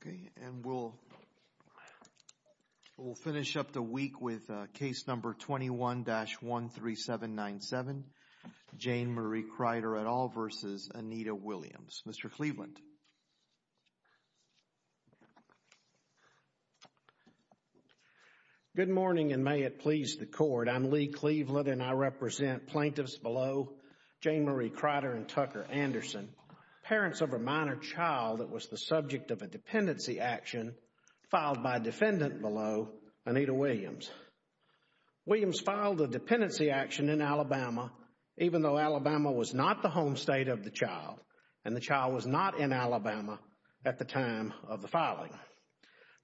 Okay, and we'll finish up the week with case number 21-13797, Janemarie Crider et al. v. Anita Williams. Mr. Cleveland. Good morning, and may it please the Court. I'm Lee Cleveland, and I represent plaintiffs below Janemarie Crider and Tucker Anderson, parents of a minor child that was the subject of a dependency action filed by defendant below, Anita Williams. Williams filed a dependency action in Alabama, even though Alabama was not the home state of the child, and the child was not in Alabama at the time of the filing.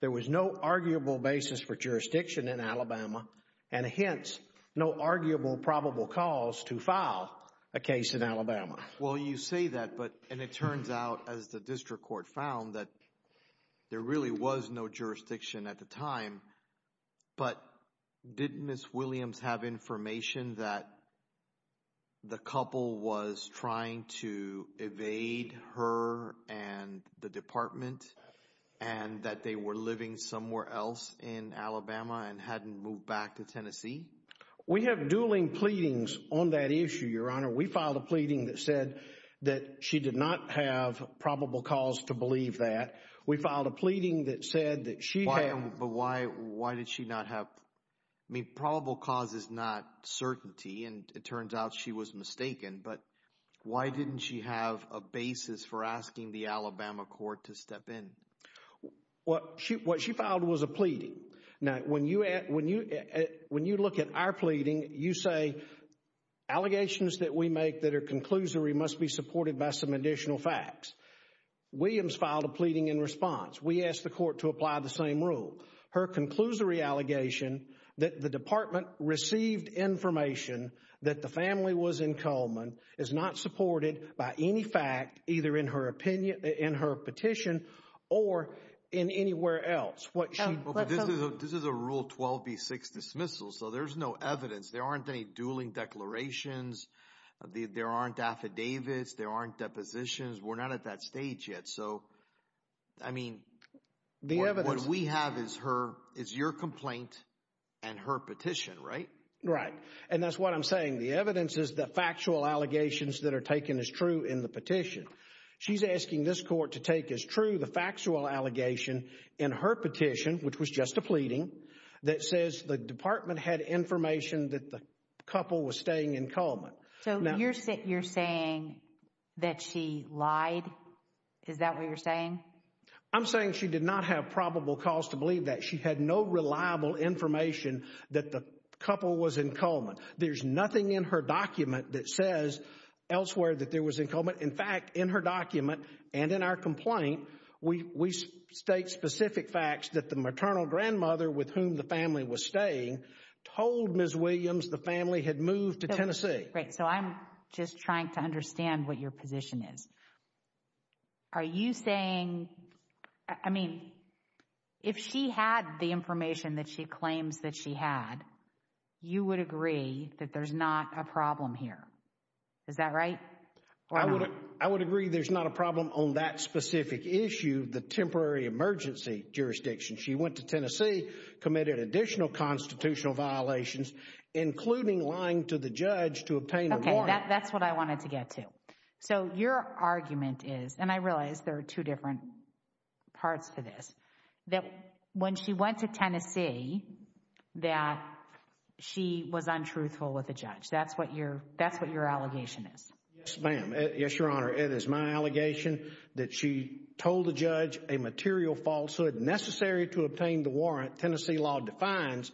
There was no arguable basis for jurisdiction in Alabama, and hence, no arguable probable cause to file a case in Alabama. Well, you say that, and it turns out, as the district court found, that there really was no jurisdiction at the time, but did Ms. Williams have information that the couple was trying to evade her and the department, and that they were living somewhere else in Alabama and hadn't moved back to Tennessee? We have dueling pleadings on that issue, Your Honor. We filed a pleading that said that she did not have probable cause to believe that. We filed a pleading that said that she had... But why did she not have... I mean, probable cause is not certainty, and it turns out she was mistaken, but why didn't she have a basis for asking the Alabama court to step in? What she filed was a pleading. Now, when you look at our pleading, you say allegations that we make that are conclusory must be supported by some additional facts. Williams filed a pleading in response. We asked the court to apply the same rule. Her conclusory allegation that the department received information that the family was in or in anywhere else. This is a Rule 12b6 dismissal, so there's no evidence. There aren't any dueling declarations. There aren't affidavits. There aren't depositions. We're not at that stage yet. I mean, what we have is your complaint and her petition, right? Right, and that's what I'm saying. The evidence is the factual allegations that are taken as true in the petition. She's asking this court to take as true the factual allegation in her petition, which was just a pleading, that says the department had information that the couple was staying in Cullman. So you're saying that she lied? Is that what you're saying? I'm saying she did not have probable cause to believe that. She had no reliable information that the couple was in Cullman. There's nothing in her document that says elsewhere that there was in Cullman. In fact, in her document and in our complaint, we state specific facts that the maternal grandmother with whom the family was staying told Ms. Williams the family had moved to Tennessee. Right, so I'm just trying to understand what your position is. Are you saying, I mean, if she had the information that she claims that she had, you would agree that there's not a problem here? Is that right? I would agree there's not a problem on that specific issue, the temporary emergency jurisdiction. She went to Tennessee, committed additional constitutional violations, including lying to the judge to obtain a warrant. Okay, that's what I wanted to get to. So your argument is, and I realize there are two different parts to this, that when she went to Tennessee, that she was untruthful with the judge. That's what your, that's what your allegation is. Yes, ma'am. Yes, Your Honor. It is my allegation that she told the judge a material falsehood necessary to obtain the warrant. Tennessee law defines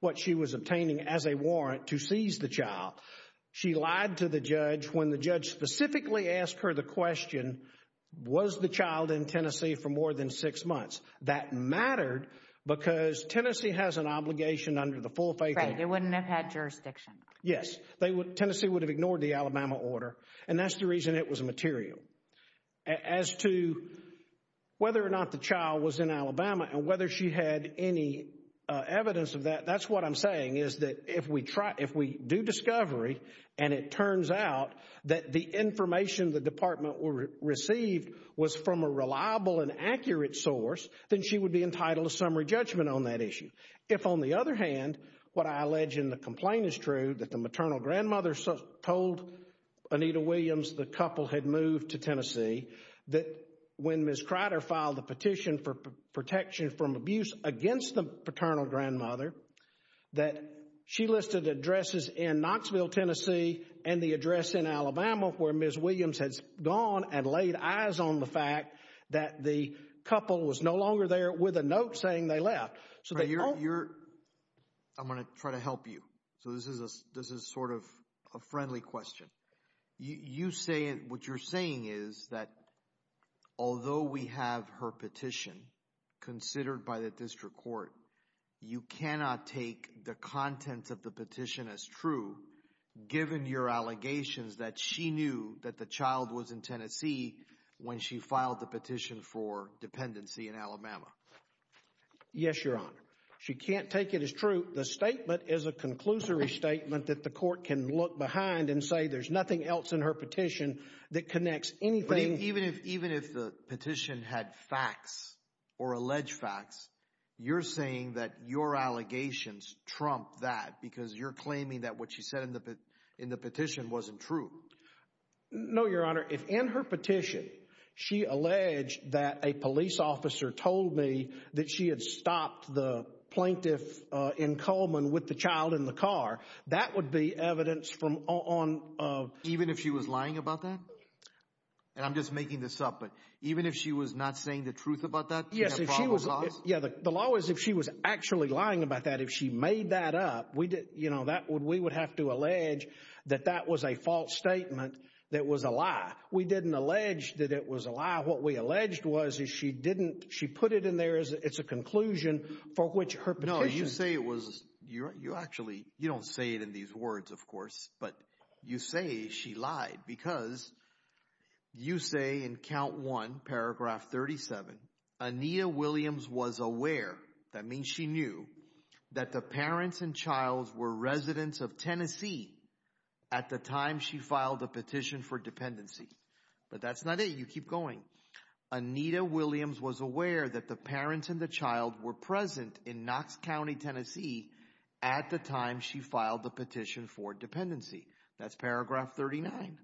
what she was obtaining as a warrant to seize the child. She lied to the judge when the judge specifically asked her the question, was the child in Tennessee for more than six months? That mattered because Tennessee has an obligation under the full faith order. Right, it wouldn't have had jurisdiction. Yes, they would, Tennessee would have ignored the Alabama order and that's the reason it was material. As to whether or not the child was in Alabama and whether she had any evidence of that, that's what I'm saying is that if we try, if we do discovery and it turns out that the information the department received was from a reliable and accurate source, then she would be entitled to summary judgment on that issue. If on the other hand, what I allege in the complaint is true, that the maternal grandmother told Anita Williams the couple had moved to Tennessee, that when Ms. Crider filed the petition for protection from abuse against the paternal grandmother, that she listed addresses in Knoxville, Tennessee and the address in Alabama where Ms. Williams had gone and laid eyes on the fact that the couple was no longer there with a note saying they left. I'm going to try to help you, so this is sort of a friendly question. What you're saying is that although we have her petition considered by the district court, you cannot take the contents of the petition as true given your allegations that she knew that the child was in Tennessee when she filed the petition for dependency in Alabama. Yes, your honor. She can't take it as true. The statement is a conclusory statement that the court can look behind and say there's nothing else in her petition that connects anything. Even if the petition had facts or alleged facts, you're saying that your allegations trump that because you're claiming that what she said in the petition wasn't true. No, your honor. If in her petition she alleged that a police officer told me that she had stopped the plaintiff in Coleman with the child in the car, that would be evidence from... Even if she was lying about that? I'm just making this up, but even if she was not saying the truth about that? Yes, the law is if she was actually lying about that, if she made that up, we would have to allege that that was a false statement that was a lie. We didn't allege that it was a lie. What we alleged was that she put it in there as a conclusion for which her petition... No, you don't say it in these words, of course, but you say she lied because you say in count one, paragraph 37, Anita Williams was aware, that means she knew, that the parents and child were residents of Tennessee at the time she filed the petition for dependency. But that's not it. You keep going. Anita Williams was aware that the parents and the child were present in Knox County, Tennessee at the time she filed the petition for dependency. That's paragraph 39.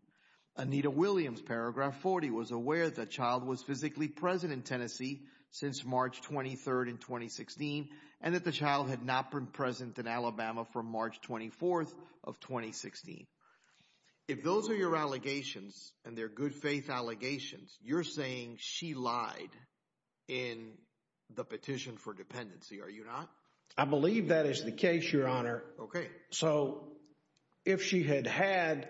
Anita Williams, paragraph 40, was aware the child was physically present in Tennessee since March 23rd in 2016, and that the child had not been present in Alabama from March 24th of 2016. If those are your allegations and they're good faith allegations, you're saying she lied in the petition for dependency, are you not? I believe that is the case, Your Honor. Okay. So if she had had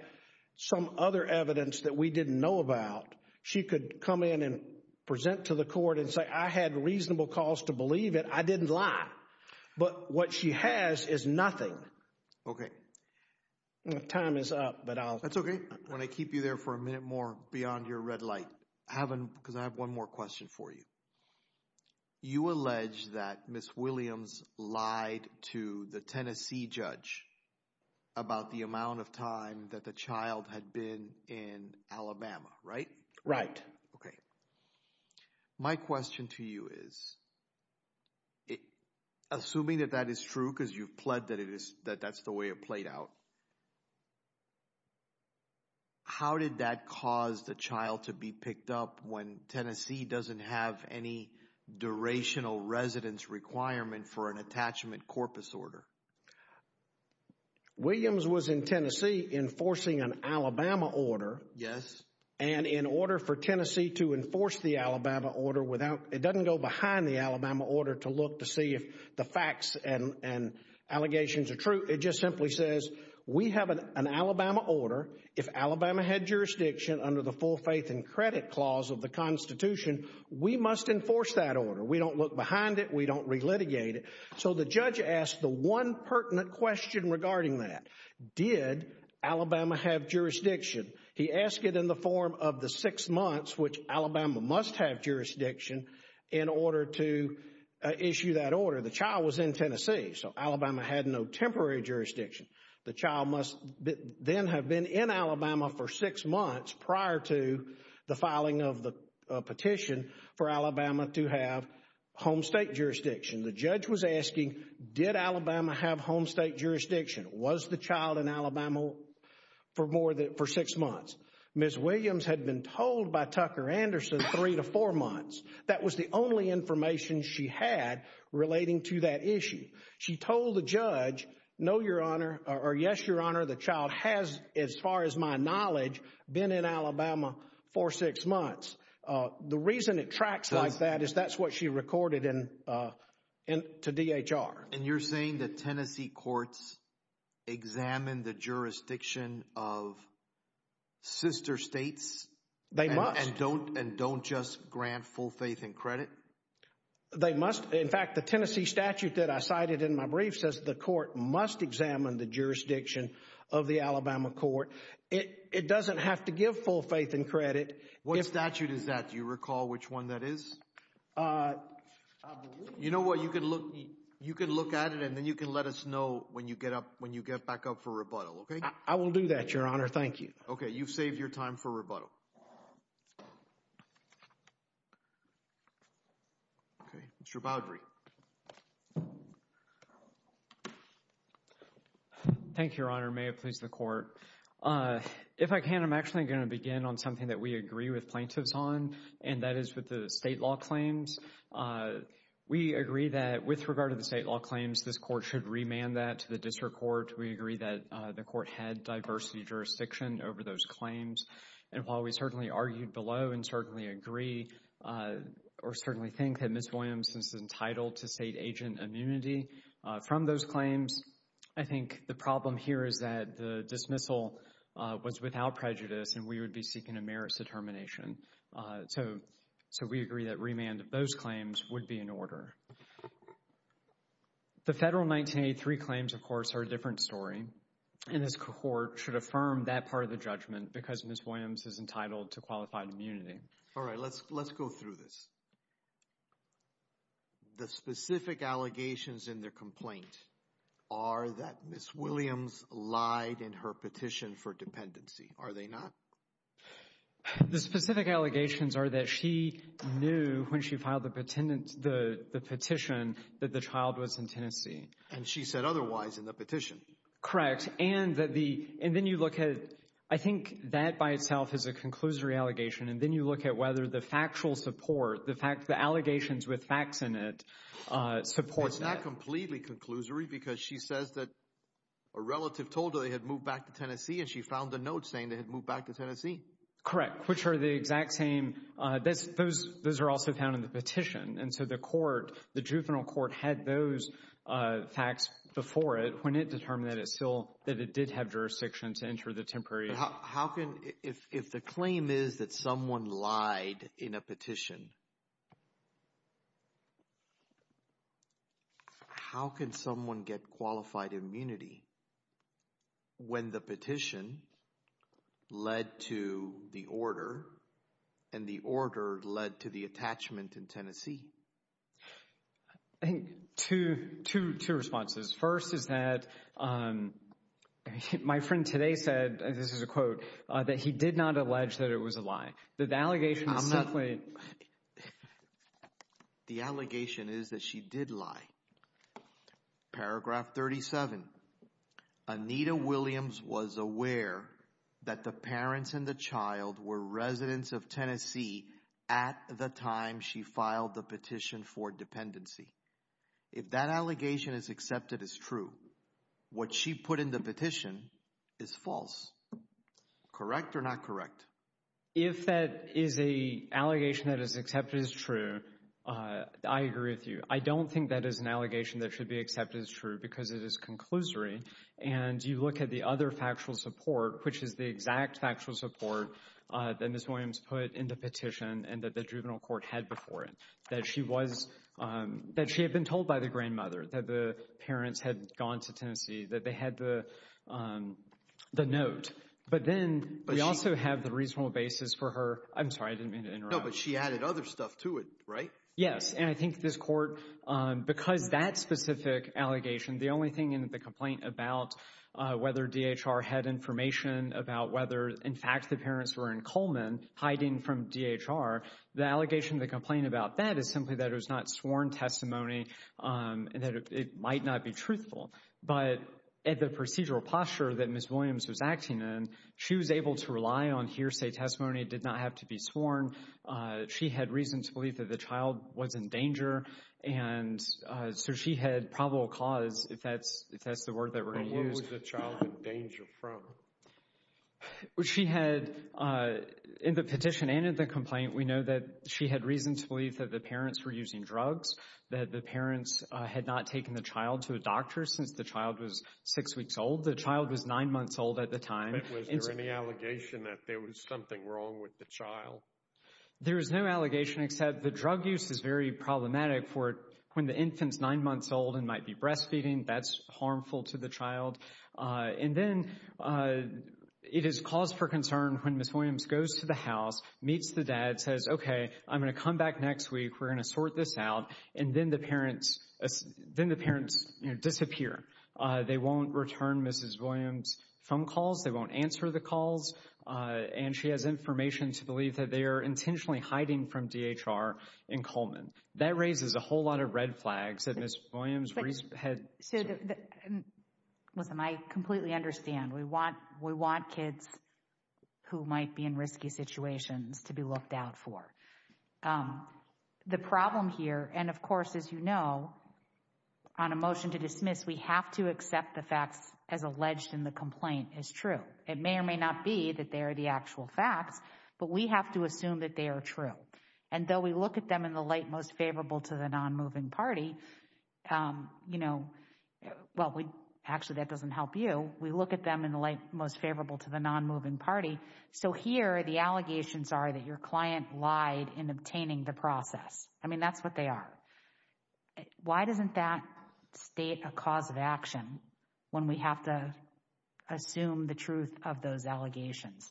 some other evidence that we didn't know about, she could come in and present to the court and say, I had reasonable cause to believe it, I didn't lie. But what she has is nothing. Okay. Time is up, but I'll... That's okay. When I keep you there for a minute more beyond your red light, because I have one more question for you. You allege that Ms. Williams lied to the Tennessee judge about the amount of time that the child had been in Alabama, right? Right. Okay. My question to you is, assuming that that is true, because you've pled that that's the way it played out, how did that cause the child to be picked up when Tennessee doesn't have any durational residence requirement for an attachment corpus order? Williams was in Tennessee enforcing an Alabama order. Yes. And in order for Tennessee to enforce the Alabama order without... It doesn't go behind the Alabama order to look to see if the facts and allegations are true. It just simply says, we have an Alabama order. If Alabama had jurisdiction under the full faith and credit clause of the constitution, we must enforce that order. We don't look behind it. We don't relitigate it. So the judge asked the one pertinent question regarding that, did Alabama have jurisdiction? He asked it in the form of the six months, which Alabama must have jurisdiction in order to issue that order. The child was in Tennessee. So Alabama had no temporary jurisdiction. The child must then have been in Alabama for six months prior to the filing of the petition for Alabama to have home state jurisdiction. The judge was asking, did Alabama have home state jurisdiction? Was the child in Alabama for six months? Ms. Williams had been told by Tucker Anderson three to four months. That was the only information she had relating to that issue. She told the judge, no, your honor, or yes, your honor, the child has, as far as my knowledge, been in Alabama for six months. The reason it tracks like that is that's what she recorded to DHR. And you're saying that Tennessee courts examine the jurisdiction of sister states- and don't just grant full faith and credit? They must. In fact, the Tennessee statute that I cited in my brief says the court must examine the jurisdiction of the Alabama court. It doesn't have to give full faith and credit. What statute is that? Do you recall which one that is? You know what? You can look at it and then you can let us know when you get back up for rebuttal, okay? I will do that, your honor. Thank you. Okay. You've saved your time for rebuttal. Okay. Mr. Boudry. Thank you, your honor. May it please the court. If I can, I'm actually going to begin on something that we agree with plaintiffs on, and that is with the state law claims. We agree that with regard to the state law claims, this court should remand that to the district court. We agree that the court had diversity jurisdiction over those claims. And while we certainly argued below in agree or certainly think that Ms. Williams is entitled to state agent immunity from those claims, I think the problem here is that the dismissal was without prejudice and we would be seeking a merits determination. So we agree that remand of those claims would be in order. The federal 1983 claims, of course, are a different story. And this court should affirm that part of the judgment because Ms. Williams is entitled to qualified immunity. All right. Let's go through this. The specific allegations in their complaint are that Ms. Williams lied in her petition for dependency. Are they not? The specific allegations are that she knew when she filed the petition that the child was in Tennessee. And she said otherwise in the petition. Correct. And then you look at, I think that by itself is a conclusory allegation. And then you look at whether the factual support, the allegations with facts in it, supports that. It's not completely conclusory because she says that a relative told her they had moved back to Tennessee and she found the note saying they had moved back to Tennessee. Correct. Which are the exact same. Those are also found in the petition. And so the court, had those facts before it when it determined that it still, that it did have jurisdiction to enter the temporary. How can, if the claim is that someone lied in a petition, how can someone get qualified immunity when the petition led to the order and the order led to the attachment in Tennessee? I think two, two, two responses. First is that my friend today said, this is a quote, that he did not allege that it was a lie. That the allegation is simply. The allegation is that she did lie. Paragraph 37. Anita Williams was aware that the parents and the child were residents of Tennessee at the time she filed the petition for dependency. If that allegation is accepted as true, what she put in the petition is false. Correct or not correct? If that is a allegation that is accepted as true, I agree with you. I don't think that is an allegation that should be accepted as true because it is conclusory. And you look at the other factual support, which is the exact factual support that Ms. Williams put in the petition and that the juvenile court had before it, that she was, that she had been told by the grandmother that the parents had gone to Tennessee, that they had the note. But then we also have the reasonable basis for her. I'm sorry, I didn't mean to interrupt. No, but she added other stuff to it, right? Yes. And I think this about whether DHR had information about whether, in fact, the parents were in Coleman hiding from DHR. The allegation, the complaint about that is simply that it was not sworn testimony and that it might not be truthful. But at the procedural posture that Ms. Williams was acting in, she was able to rely on hearsay testimony, did not have to be sworn. She had reason to believe that the child was in danger. And so she had probable cause, if that's the word that we're going to use. But where was the child in danger from? She had, in the petition and in the complaint, we know that she had reason to believe that the parents were using drugs, that the parents had not taken the child to a doctor since the child was six weeks old. The child was nine months old at the time. Was there any allegation that there was something wrong with the child? There is no allegation, except the drug use is very problematic for when the infant's nine months old and might be breastfeeding. That's harmful to the child. And then it is cause for concern when Ms. Williams goes to the house, meets the dad, says, OK, I'm going to come back next week. We're going to sort this out. And then the parents disappear. They won't return Mrs. Williams phone calls. They won't answer the calls. And she has information to believe that they are intentionally hiding from DHR and Coleman. That raises a whole lot of red flags that Ms. Williams had. Listen, I completely understand. We want kids who might be in risky situations to be looked out for. The problem here, and of course, as you know, on a motion to dismiss, we have to assume that the complaint is true. It may or may not be that they are the actual facts, but we have to assume that they are true. And though we look at them in the light most favorable to the non-moving party, you know, well, actually that doesn't help you. We look at them in the light most favorable to the non-moving party. So here the allegations are that your client lied in obtaining the process. I mean, that's what they are. Why doesn't that state a cause of action when we have to assume the truth of those allegations?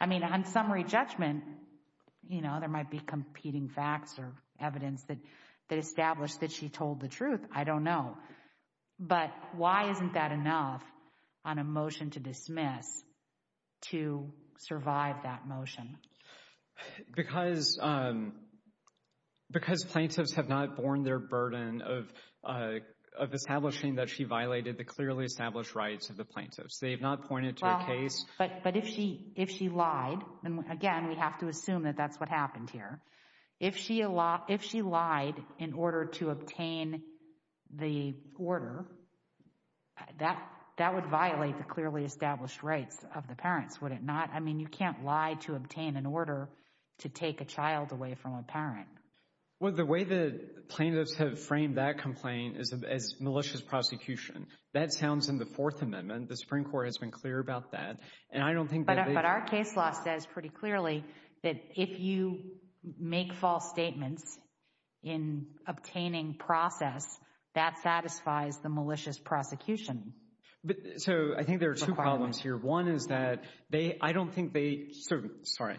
I mean, on summary judgment, you know, there might be competing facts or evidence that established that she told the truth. I don't know. But why isn't that enough on a motion to dismiss to survive that motion? Because plaintiffs have not borne their burden of establishing that she violated the clearly established rights of the plaintiffs. They've not pointed to a case. But if she lied, and again, we have to assume that that's what happened here. If she lied in order to obtain the order, that would violate the clearly established rights of the parents, would it not? I mean, you can't lie to obtain an order to take a child away from a child. That sounds in the Fourth Amendment. The Supreme Court has been clear about that. And I don't think. But our case law says pretty clearly that if you make false statements in obtaining process, that satisfies the malicious prosecution. So I think there are two problems here. One is that they I don't think they. So, sorry,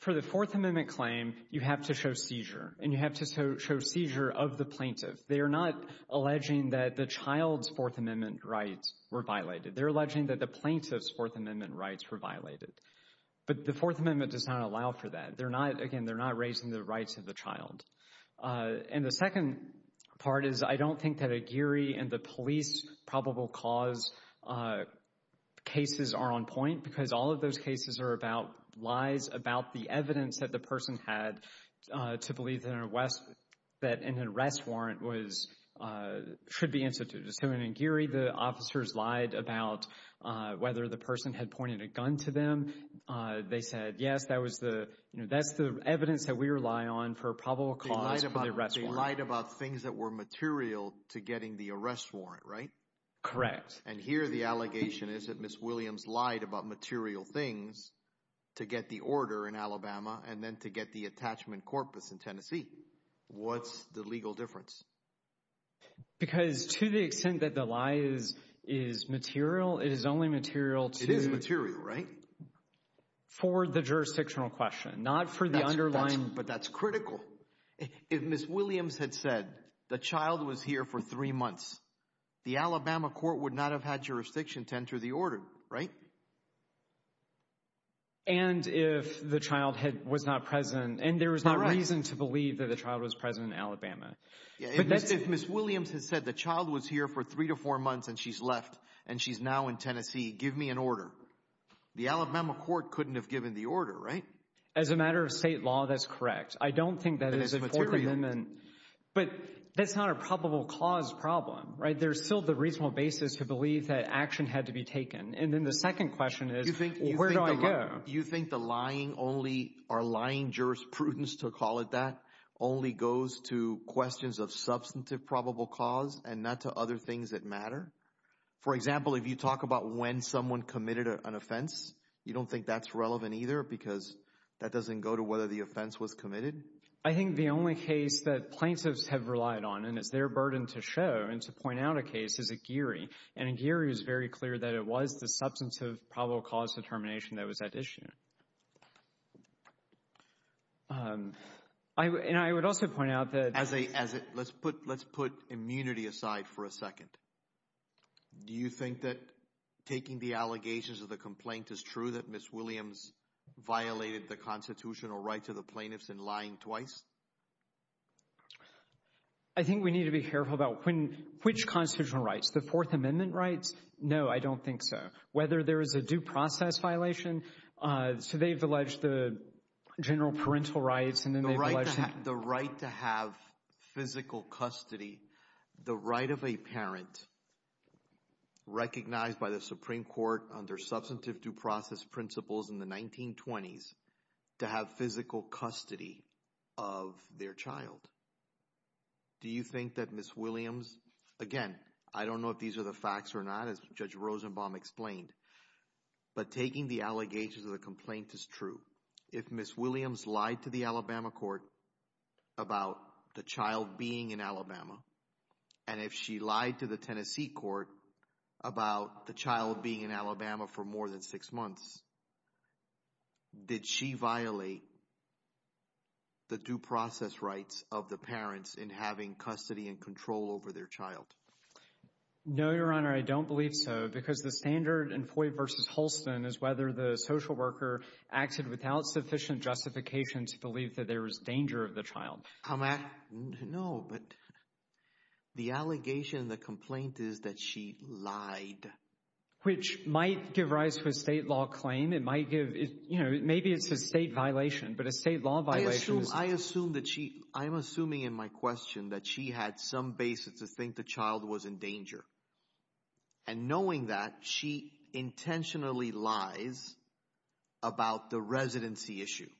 for the Fourth Amendment claim, you have to show seizure and you have to show seizure of the plaintiff. They are not alleging that the child's Fourth Amendment rights were violated. They're alleging that the plaintiff's Fourth Amendment rights were violated. But the Fourth Amendment does not allow for that. They're not, again, they're not raising the rights of the child. And the second part is I don't think that a Geary and the police probable cause cases are on point because all of those cases are about lies, about the evidence that the person had to believe that an arrest warrant was should be instituted. So in Geary, the officers lied about whether the person had pointed a gun to them. They said, yes, that was the you know, that's the evidence that we rely on for probable cause for the arrest warrant. They lied about things that were material to getting the arrest warrant, right? Correct. And here the allegation is that Ms. Williams lied about material things to get the order in Alabama and then to get the attachment corpus in Tennessee. What's the legal difference? Because to the extent that the lie is is material, it is only material. It is material, right? For the jurisdictional question, not for the underlying. But that's critical. If Ms. Williams had said the child was here for three months, the Alabama court would not have had jurisdiction to enter the order, right? And if the child had was not present and there was no reason to believe that the child was present in Alabama. If Ms. Williams has said the child was here for three to four months and she's left and she's now in Tennessee, give me an order. The Alabama court couldn't have given the order, right? As a matter of state law, that's correct. I don't think that is. But that's not a probable cause problem, right? There's still the reasonable basis to believe that action had to be taken. And then the second question is, where do I go? You think the lying only or lying jurisprudence, to call it that, only goes to questions of substantive probable cause and not to other things that matter? For example, if you talk about when someone committed an offense, you don't think that's relevant either because that doesn't go to whether the offense was committed? I think the only case that plaintiffs have relied on and it's their burden to show and to point out a case is Aguirre. And Aguirre is very clear that it was the substantive probable cause determination that was at issue. And I would also point out that... Let's put immunity aside for a second. Do you think that taking the allegations of the complaint is true that Ms. Williams violated the constitutional rights of the plaintiffs in lying twice? I think we need to be careful about which constitutional rights. The Fourth Amendment rights? No, I don't think so. Whether there is a due process violation, so they've alleged the general parental rights and then they've alleged... The right to have physical custody, the right of a parent recognized by the Supreme Court under substantive due process principles in the 1920s to have physical custody of their child. Do you think that Ms. Williams... Again, I don't know if these are the facts or not, as Judge Rosenbaum explained, but taking the allegations of the complaint is true. If Ms. Williams lied to the Alabama court about the child being in Alabama, and if she lied to the Tennessee court about the child being in Alabama for more than six months, did she violate the due process rights of the parents in having custody and control over their child? No, Your Honor, I don't believe so because the standard in Foy v. Holston is whether the social worker acted without sufficient justification to believe that there was danger of the child. How... No, but the allegation in the complaint is that she lied. Which might give rise to a state law claim. It might give... Maybe it's a state violation, but a state law violation is... I assume that she... I'm assuming in my question that she had some basis to think the child was in danger. And knowing that, she intentionally lies about the residency issue.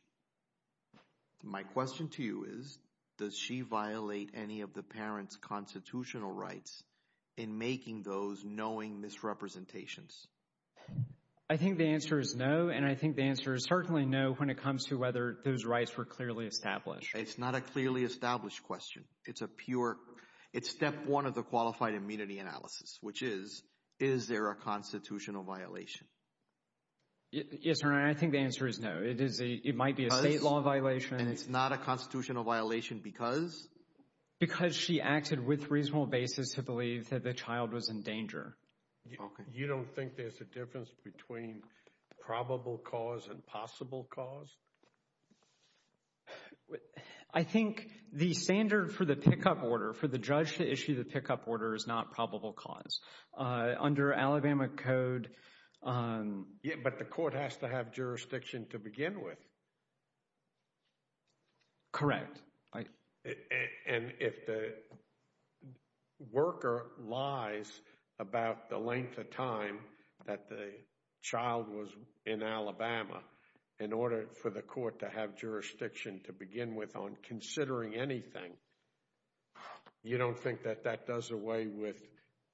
My question to you is, does she violate any of the parents' constitutional rights in making those knowing misrepresentations? I think the answer is no, and I think the answer is certainly no when it comes to whether those rights were clearly established. It's not a clearly established question. It's a pure... It's step one of the qualified immunity analysis, which is, is there a constitutional violation? Yes, Your Honor, I think the answer is no. It is... It might be a state law violation. And it's not a constitutional violation because? Because she acted with reasonable basis to believe that the child was in danger. You don't think there's a difference between probable cause and possible cause? I think the standard for the pickup order, for the judge to issue the pickup order, is not probable cause. Under Alabama code... Yeah, but the court has to have jurisdiction to begin with. Correct. And if the worker lies about the length of time that the child was in Alabama, in order for the court to have jurisdiction to begin with on considering anything, you don't think that that does away with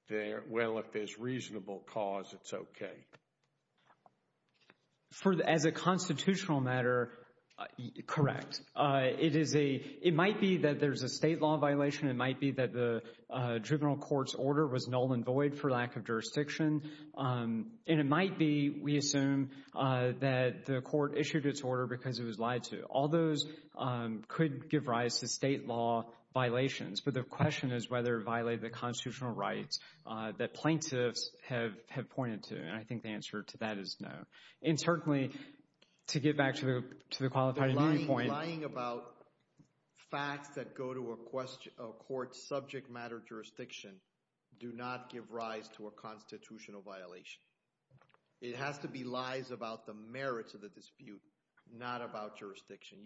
their... Well, if there's reasonable cause, it's okay. As a constitutional matter, correct. It is a... It might be that there's a state law violation. It might be that the juvenile court's order was null and void for lack of jurisdiction. And it might be, we assume, that the court issued its order because it was lied to. All those could give rise to state law violations. But the question is whether it violated the length of time. I think the answer to that is no. And certainly, to get back to the qualifying point... Lying about facts that go to a court's subject matter jurisdiction do not give rise to a constitutional violation. It has to be lies about the merits of the dispute, not about jurisdiction.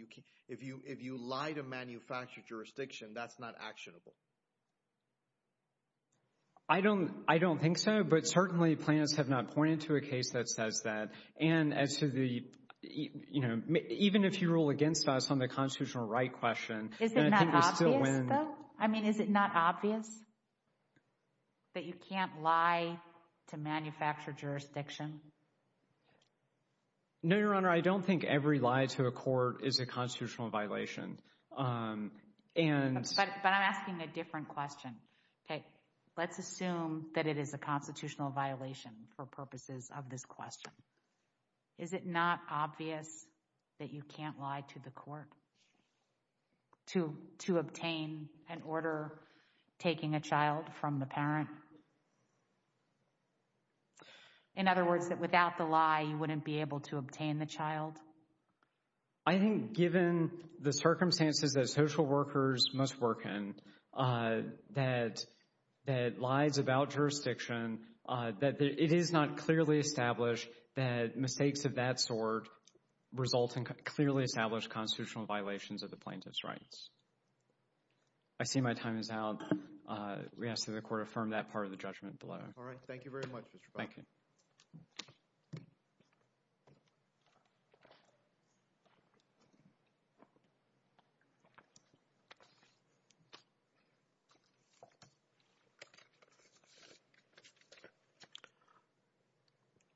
If you lie to manufactured jurisdiction, that's not actionable. I don't think so. But certainly, plaintiffs have not pointed to a case that says that. And as to the... Even if you rule against us on the constitutional right question, I think we're still winning. Is it not obvious, though? I mean, is it not obvious that you can't lie to manufactured jurisdiction? No, Your Honor. I don't think every lie to a court is a constitutional violation. But I'm asking a different question. Okay, let's assume that it is a constitutional violation for purposes of this question. Is it not obvious that you can't lie to the court to obtain an order taking a child from the parent? In other words, that without the lie, you wouldn't be able to obtain the child? I think given the circumstances that social workers must work in, that lies about jurisdiction, that it is not clearly established that mistakes of that sort result in clearly established constitutional violations of the plaintiff's rights. I see my time is out. We ask that the court affirm that part of the judgment below. All right. Thank you very much, Mr. Fowler. Thank you.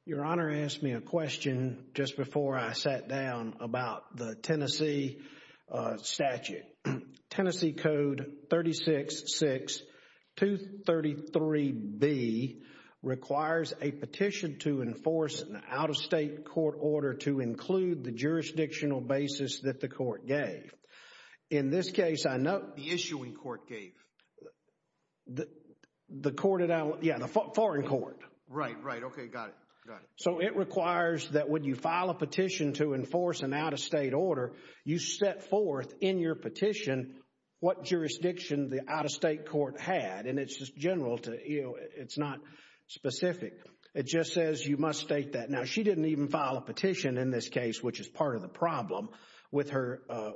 Your Honor asked me a question just before I sat down about the Tennessee statute. Tennessee Code 36-6-233b requires a petition to enforce an out-of-state court order to include the jurisdictional basis that the court gave. In this case, I note- The issuing court gave. The court, yeah, the foreign court. Right, right. Okay, got it. Got it. So it requires that when you file a petition to enforce an out-of-state order, you set forth in your petition what jurisdiction the out-of-state court had, and it's just general. It's not specific. It just says you must state that. Now, she didn't even file a petition in this case, which is part of the problem with a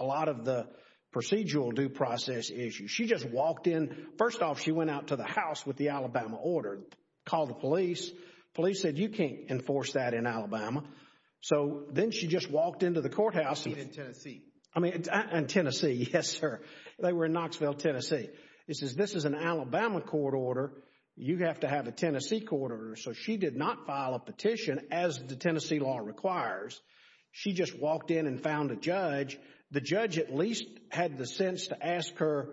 lot of the procedural due process issues. She just walked in. First off, she went out to the house with the Alabama order, called the police. Police said, you can't enforce that in Alabama. So then she just walked into the courthouse. In Tennessee. I mean, in Tennessee, yes, sir. They were in Knoxville, Tennessee. It says, this is an Alabama court order. You have to have a Tennessee court order. So she did not file a petition, as the Tennessee law requires. She just walked in and found a judge. The judge at least had the sense to ask her,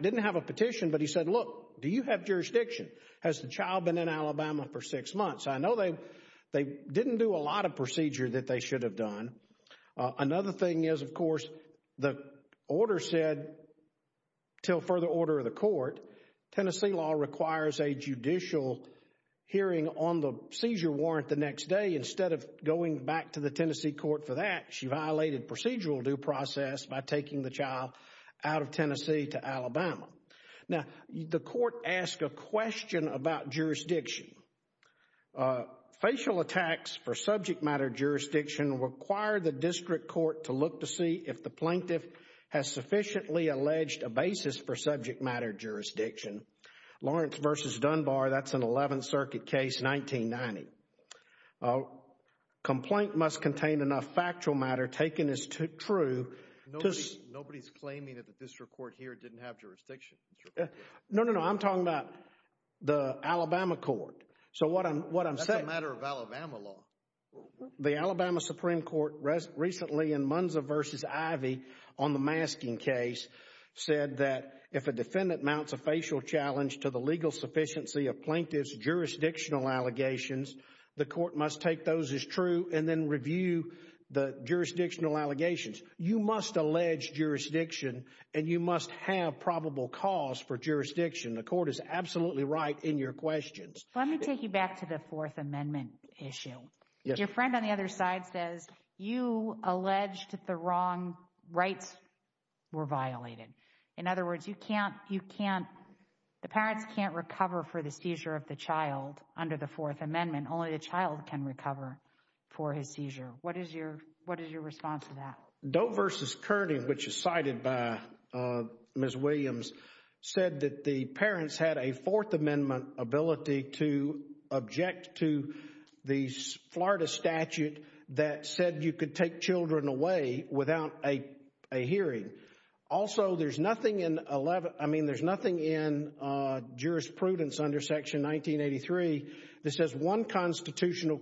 didn't have a petition, but he said, look, do you have jurisdiction? Has the child been in Alabama for six months? I know they didn't do a lot of procedure that they should have done. Another thing is, of course, the order said, till further order of the court, Tennessee law requires a judicial hearing on the seizure warrant the next day. Instead of going back to the Tennessee court for that, she violated procedural due process by taking the child out of Tennessee to Alabama. Now, the court asked a question about jurisdiction. Facial attacks for subject matter jurisdiction require the district court to look to see if the plaintiff has sufficiently alleged a basis for subject matter jurisdiction. Lawrence versus Dunbar, that's an 11th Circuit case, 1990. Complaint must contain enough factual matter taken as true. Nobody's claiming that the district court here didn't have jurisdiction. No, no, no. I'm talking about the Alabama court. So what I'm saying— That's a matter of Alabama law. The Alabama Supreme Court recently in Munza versus Ivey on the masking case said that if a defendant mounts a facial challenge to the legal sufficiency of plaintiff's jurisdictional allegations, the court must take those as true and then review the jurisdictional allegations. You must allege jurisdiction and you must have probable cause for jurisdiction. The court is absolutely right in your questions. Let me take you back to the Fourth Amendment issue. Your friend on the other side says you alleged the wrong rights were violated. In other words, you can't—the parents can't recover for the seizure of the child under the Fourth Amendment. Only the child can recover for his seizure. What is your response to that? Doe versus Kearney, which is cited by Ms. Williams, said that the parents had a Fourth Amendment ability to object to the Florida statute that said you could take children away without a hearing. Also, there's nothing in 11—I mean, there's nothing in jurisprudence under Section 1983 that says one constitutional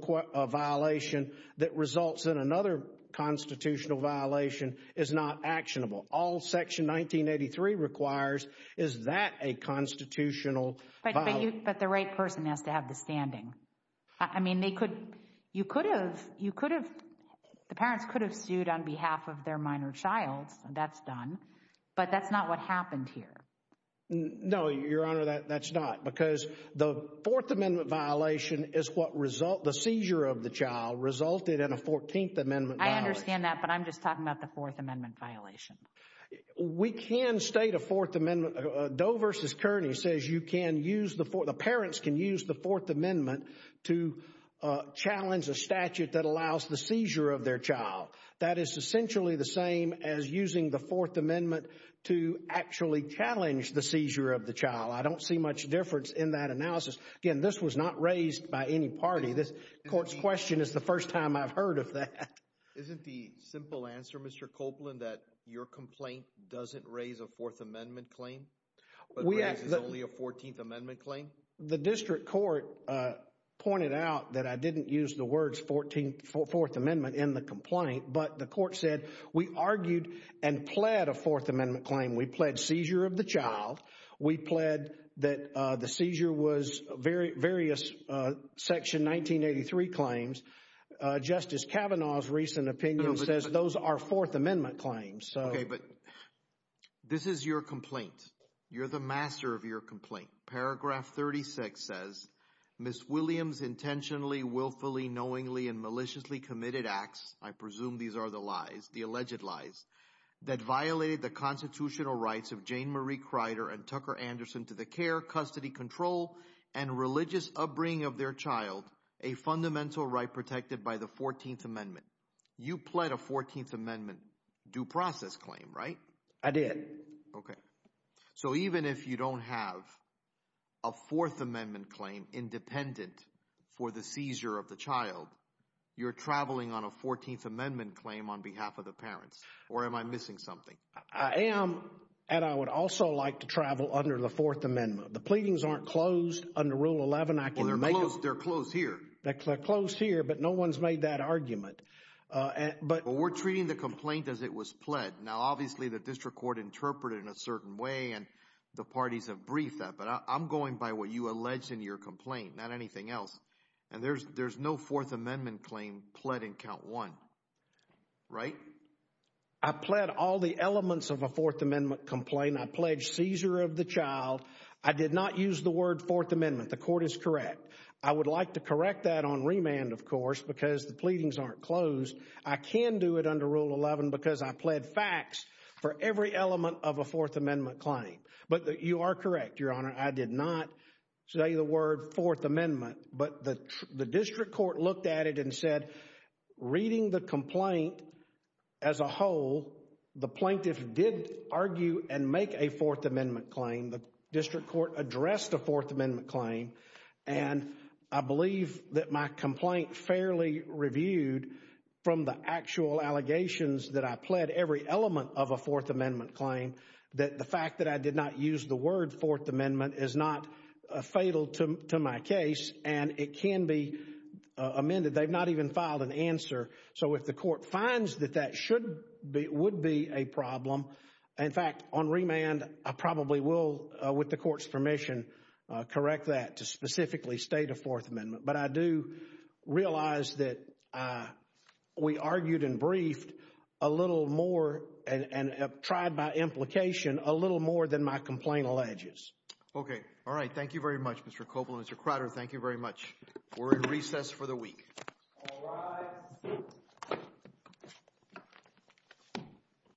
violation that results in another constitutional violation is not actionable. All Section 1983 requires is that a constitutional— But the right person has to have the standing. I mean, they could—you could have—the parents could have sued on behalf of their minor child. That's done. But that's not what happened here. No, Your Honor, that's not, because the Fourth Amendment violation is what result—the seizure of the child resulted in a Fourteenth Amendment violation. I understand that, but I'm just talking about the Fourth Amendment violation. We can state a Fourth Amendment—Doe versus Kearney says you can use the—the parents can use the Fourth Amendment to challenge a statute that allows the seizure of their child. That is essentially the same as using the Fourth Amendment to actually challenge the seizure of the child. I don't see much difference in that analysis. Again, this was not raised by any party. This court's question is the first time I've heard of that. Isn't the simple answer, Mr. Copeland, that your complaint doesn't raise a Fourth Amendment claim, but raises only a Fourteenth Amendment claim? The district court pointed out that I didn't use the words Fourteenth—Fourth Amendment in the complaint, but the court said we argued and pled a Fourth Amendment claim. We pled seizure of the child. We pled that the seizure was various Section 1983 claims. Justice Kavanaugh's recent opinion says those are Fourth Amendment claims. Okay, but this is your complaint. You're the master of your complaint. Paragraph 36 says, Ms. Williams intentionally, willfully, knowingly, and maliciously committed acts—I did. Okay. So even if you don't have a Fourth Amendment claim independent for the seizure of the child, you're traveling on a Fourteenth Amendment claim on behalf of the parents. Or am I missing something? I am, and I would also like to travel under the Fourth Amendment. The pleadings aren't closed under Rule 11. Well, they're closed here. They're closed here, but no one's made that argument. But we're treating the complaint as it was pled. Now, obviously, the district court interpreted it in a certain way, and the parties have briefed that, but I'm going by what you alleged in your complaint, not anything else. And there's no Fourth Amendment claim pled in count one, right? I pled all the elements of a Fourth Amendment complaint. I pled seizure of the child. I did not use the word Fourth Amendment. The court is correct. I would like to correct that on remand, of course, because the pleadings aren't closed. I can do it under Rule 11 because I pled facts for every element of a Fourth Amendment claim. But you are correct, Your Honor. I did not say the word Fourth Amendment, but the district court looked at it and said, reading the complaint as a whole, the plaintiff did argue and make a Fourth Amendment claim. The district court addressed a Fourth Amendment claim, and I believe that my complaint fairly reviewed from the actual allegations that I pled every element of a Fourth Amendment claim that the fact that I did not use the word Fourth Amendment is not fatal to my case, and it can be amended. They've not even filed an answer. So if the court finds that that would be a problem, in fact, on remand, I probably will, with the court's permission, correct that to specifically state a Fourth Amendment. But I do realize that we argued and briefed a little more and tried by implication a little more than my complaint alleges. Okay. All right. Thank you very much, Mr. Copeland. Mr. Crowder, thank you very much. We're in recess for the week.